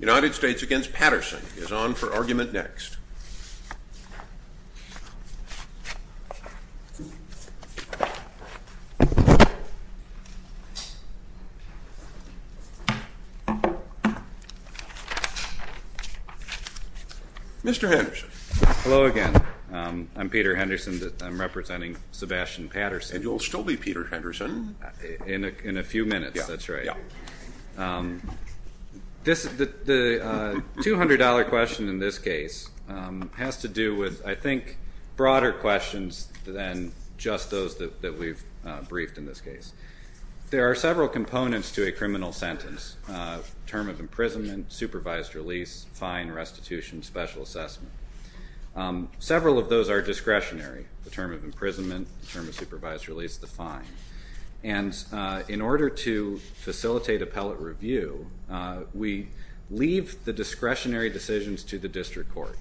United States v. Patterson is on for argument next. Mr. Henderson. Hello again. I'm Peter Henderson. I'm representing Sebastian Patterson. And you'll still be Peter Henderson. In a few minutes, that's right. The $200 question in this case has to do with, I think, broader questions than just those that we've briefed in this case. There are several components to a criminal sentence. Term of imprisonment, supervised release, fine, restitution, special assessment. Several of those are discretionary. The term of imprisonment, the term of supervised release, the fine. And in order to facilitate appellate review, we leave the discretionary decisions to the district court.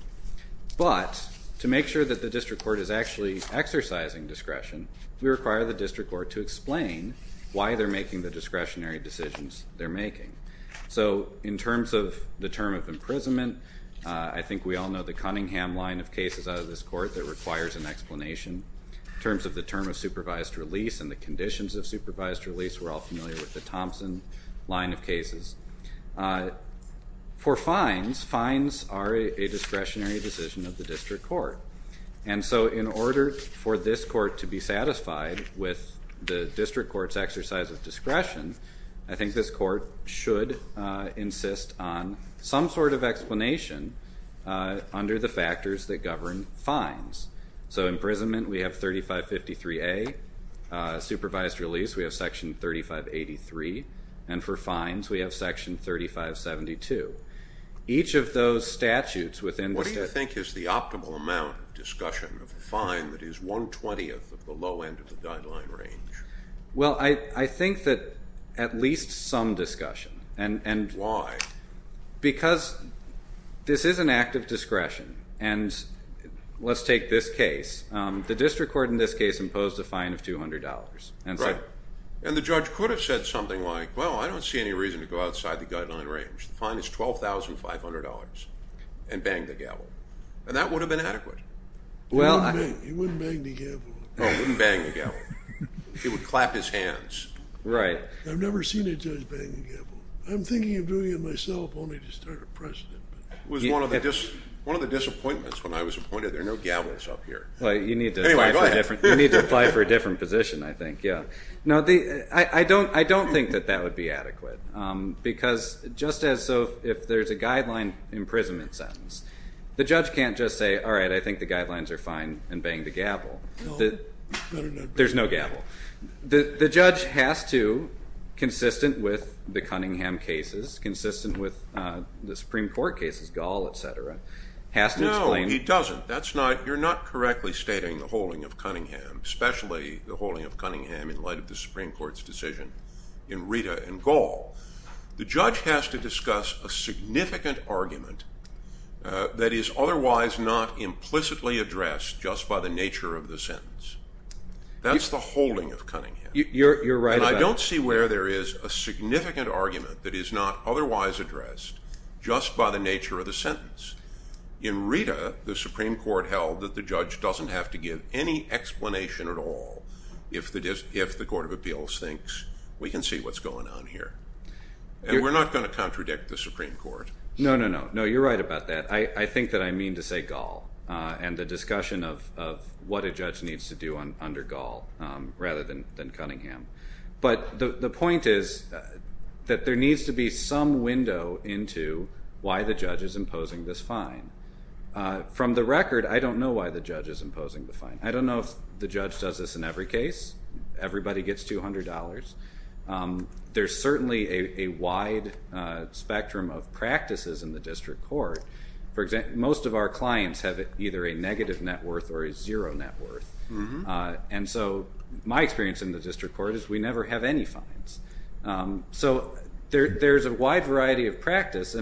But to make sure that the district court is actually exercising discretion, we require the district court to explain why they're making the discretionary decisions they're making. So in terms of the term of imprisonment, I think we all know the Cunningham line of cases out of this court that requires an explanation. In terms of the term of supervised release and the conditions of supervised release, we're all familiar with the Thompson line of cases. For fines, fines are a discretionary decision of the district court. And so in order for this court to be satisfied with the district court's exercise of discretion, I think this court should insist on some sort of explanation under the factors that govern fines. So imprisonment, we have 3553A. Supervised release, we have section 3583. And for fines, we have section 3572. Each of those statutes within the state... What do you think is the optimal amount of discussion of a fine that is one-twentieth of the low end of the guideline range? Well, I think that at least some discussion. Why? Because this is an act of discretion. And let's take this case. The district court in this case imposed a fine of $200. Right. And the judge could have said something like, well, I don't see any reason to go outside the guideline range. The fine is $12,500 and bang the gavel. And that would have been adequate. He wouldn't bang the gavel. Oh, he wouldn't bang the gavel. He would clap his hands. Right. I've never seen a judge bang the gavel. I'm thinking of doing it myself only to start a precedent. It was one of the disappointments when I was appointed. There are no gavels up here. Anyway, go ahead. You need to apply for a different position, I think. Yeah. No, I don't think that that would be adequate. Because just as so if there's a guideline imprisonment sentence, the judge can't just say, all right, I think the guidelines are fine and bang the gavel. There's no gavel. The judge has to, consistent with the Cunningham cases, consistent with the Supreme Court cases, Gall, et cetera, has to explain. No, he doesn't. You're not correctly stating the holding of Cunningham, especially the holding of Cunningham in light of the Supreme Court's decision in Rita and Gall. The judge has to discuss a significant argument that is otherwise not implicitly addressed just by the nature of the sentence. That's the holding of Cunningham. You're right about that. And I don't see where there is a significant argument that is not otherwise addressed just by the nature of the sentence. In Rita, the Supreme Court held that the judge doesn't have to give any explanation at all if the Court of Appeals thinks we can see what's going on here. And we're not going to contradict the Supreme Court. No, no, no. No, you're right about that. I think that I mean to say Gall and the discussion of what a judge needs to do under Gall rather than Cunningham. But the point is that there needs to be some window into why the judge is imposing this fine. From the record, I don't know why the judge is imposing the fine. I don't know if the judge does this in every case. Everybody gets $200. There's certainly a wide spectrum of practices in the district court. For example, most of our clients have either a negative net worth or a zero net worth. And so my experience in the district court is we never have any fines. So there's a wide variety of practice.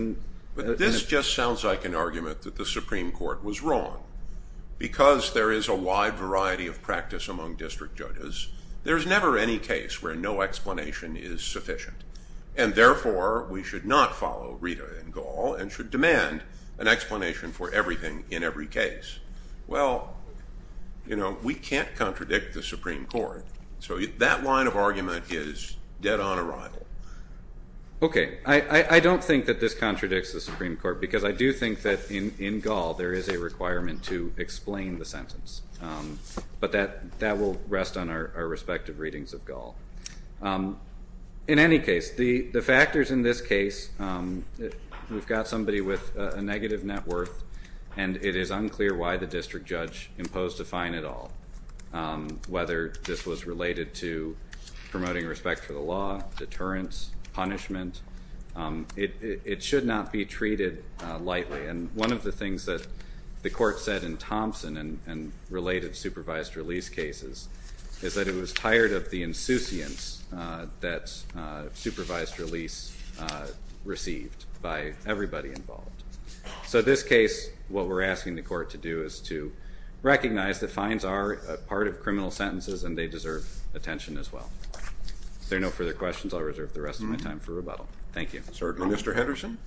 But this just sounds like an argument that the Supreme Court was wrong because there is a wide variety of practice among district judges. There's never any case where no explanation is sufficient. And therefore, we should not follow Rita in Gall and should demand an explanation for everything in every case. Well, you know, we can't contradict the Supreme Court. So that line of argument is dead on arrival. Okay. I don't think that this contradicts the Supreme Court because I do think that in Gall there is a requirement to explain the sentence. But that will rest on our respective readings of Gall. In any case, the factors in this case, we've got somebody with a negative net worth. And it is unclear why the district judge imposed a fine at all, whether this was related to promoting respect for the law, deterrence, punishment. It should not be treated lightly. And one of the things that the court said in Thompson and related supervised release cases is that it was tired of the insouciance that supervised release received by everybody involved. So this case, what we're asking the court to do is to recognize that fines are a part of criminal sentences and they deserve attention as well. If there are no further questions, I'll reserve the rest of my time for rebuttal. Thank you. Certainly, Mr. Henderson.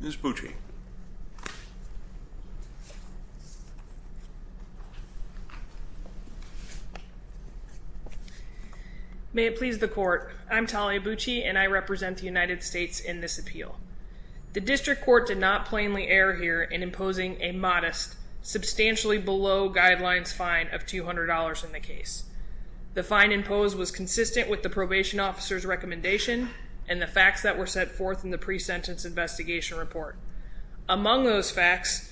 Ms. Bucci. May it please the court. I'm Talia Bucci and I represent the United States in this appeal. The district court did not plainly err here in imposing a modest, substantially below guidelines fine of $200 in the case. The fine imposed was consistent with the probation officer's recommendation and the facts that were set forth in the pre-sentence investigation report. Among those facts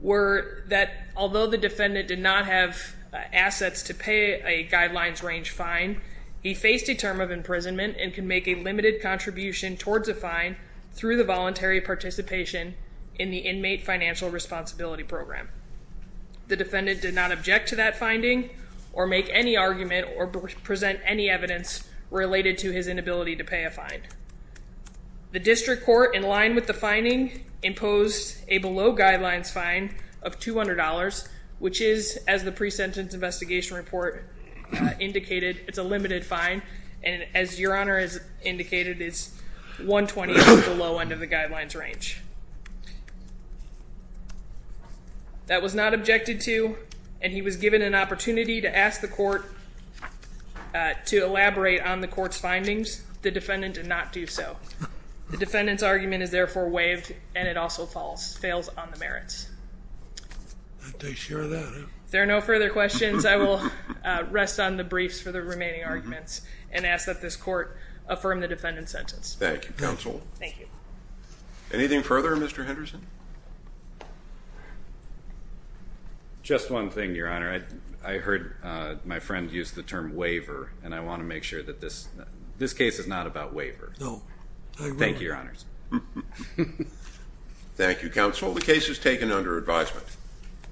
were that although the defendant did not have assets to pay a guidelines range fine, he faced a term of imprisonment and can make a limited contribution towards a fine through the voluntary participation in the inmate financial responsibility program. The defendant did not object to that finding or make any argument or present any evidence related to his inability to pay a fine. The district court, in line with the finding, imposed a below guidelines fine of $200, which is, as the pre-sentence investigation report indicated, it's a limited fine. And as Your Honor has indicated, it's $120 below end of the guidelines range. That was not objected to, and he was given an opportunity to ask the court to elaborate on the court's findings. The defendant did not do so. The defendant's argument is therefore waived, and it also falls, fails on the merits. I take care of that. If there are no further questions, I will rest on the briefs for the remaining arguments and ask that this court affirm the defendant's sentence. Thank you, counsel. Thank you. Anything further, Mr. Henderson? Just one thing, Your Honor. I heard my friend use the term waiver, and I want to make sure that this case is not about waiver. No. Thank you, Your Honors. Thank you, counsel. The case is taken under advisement.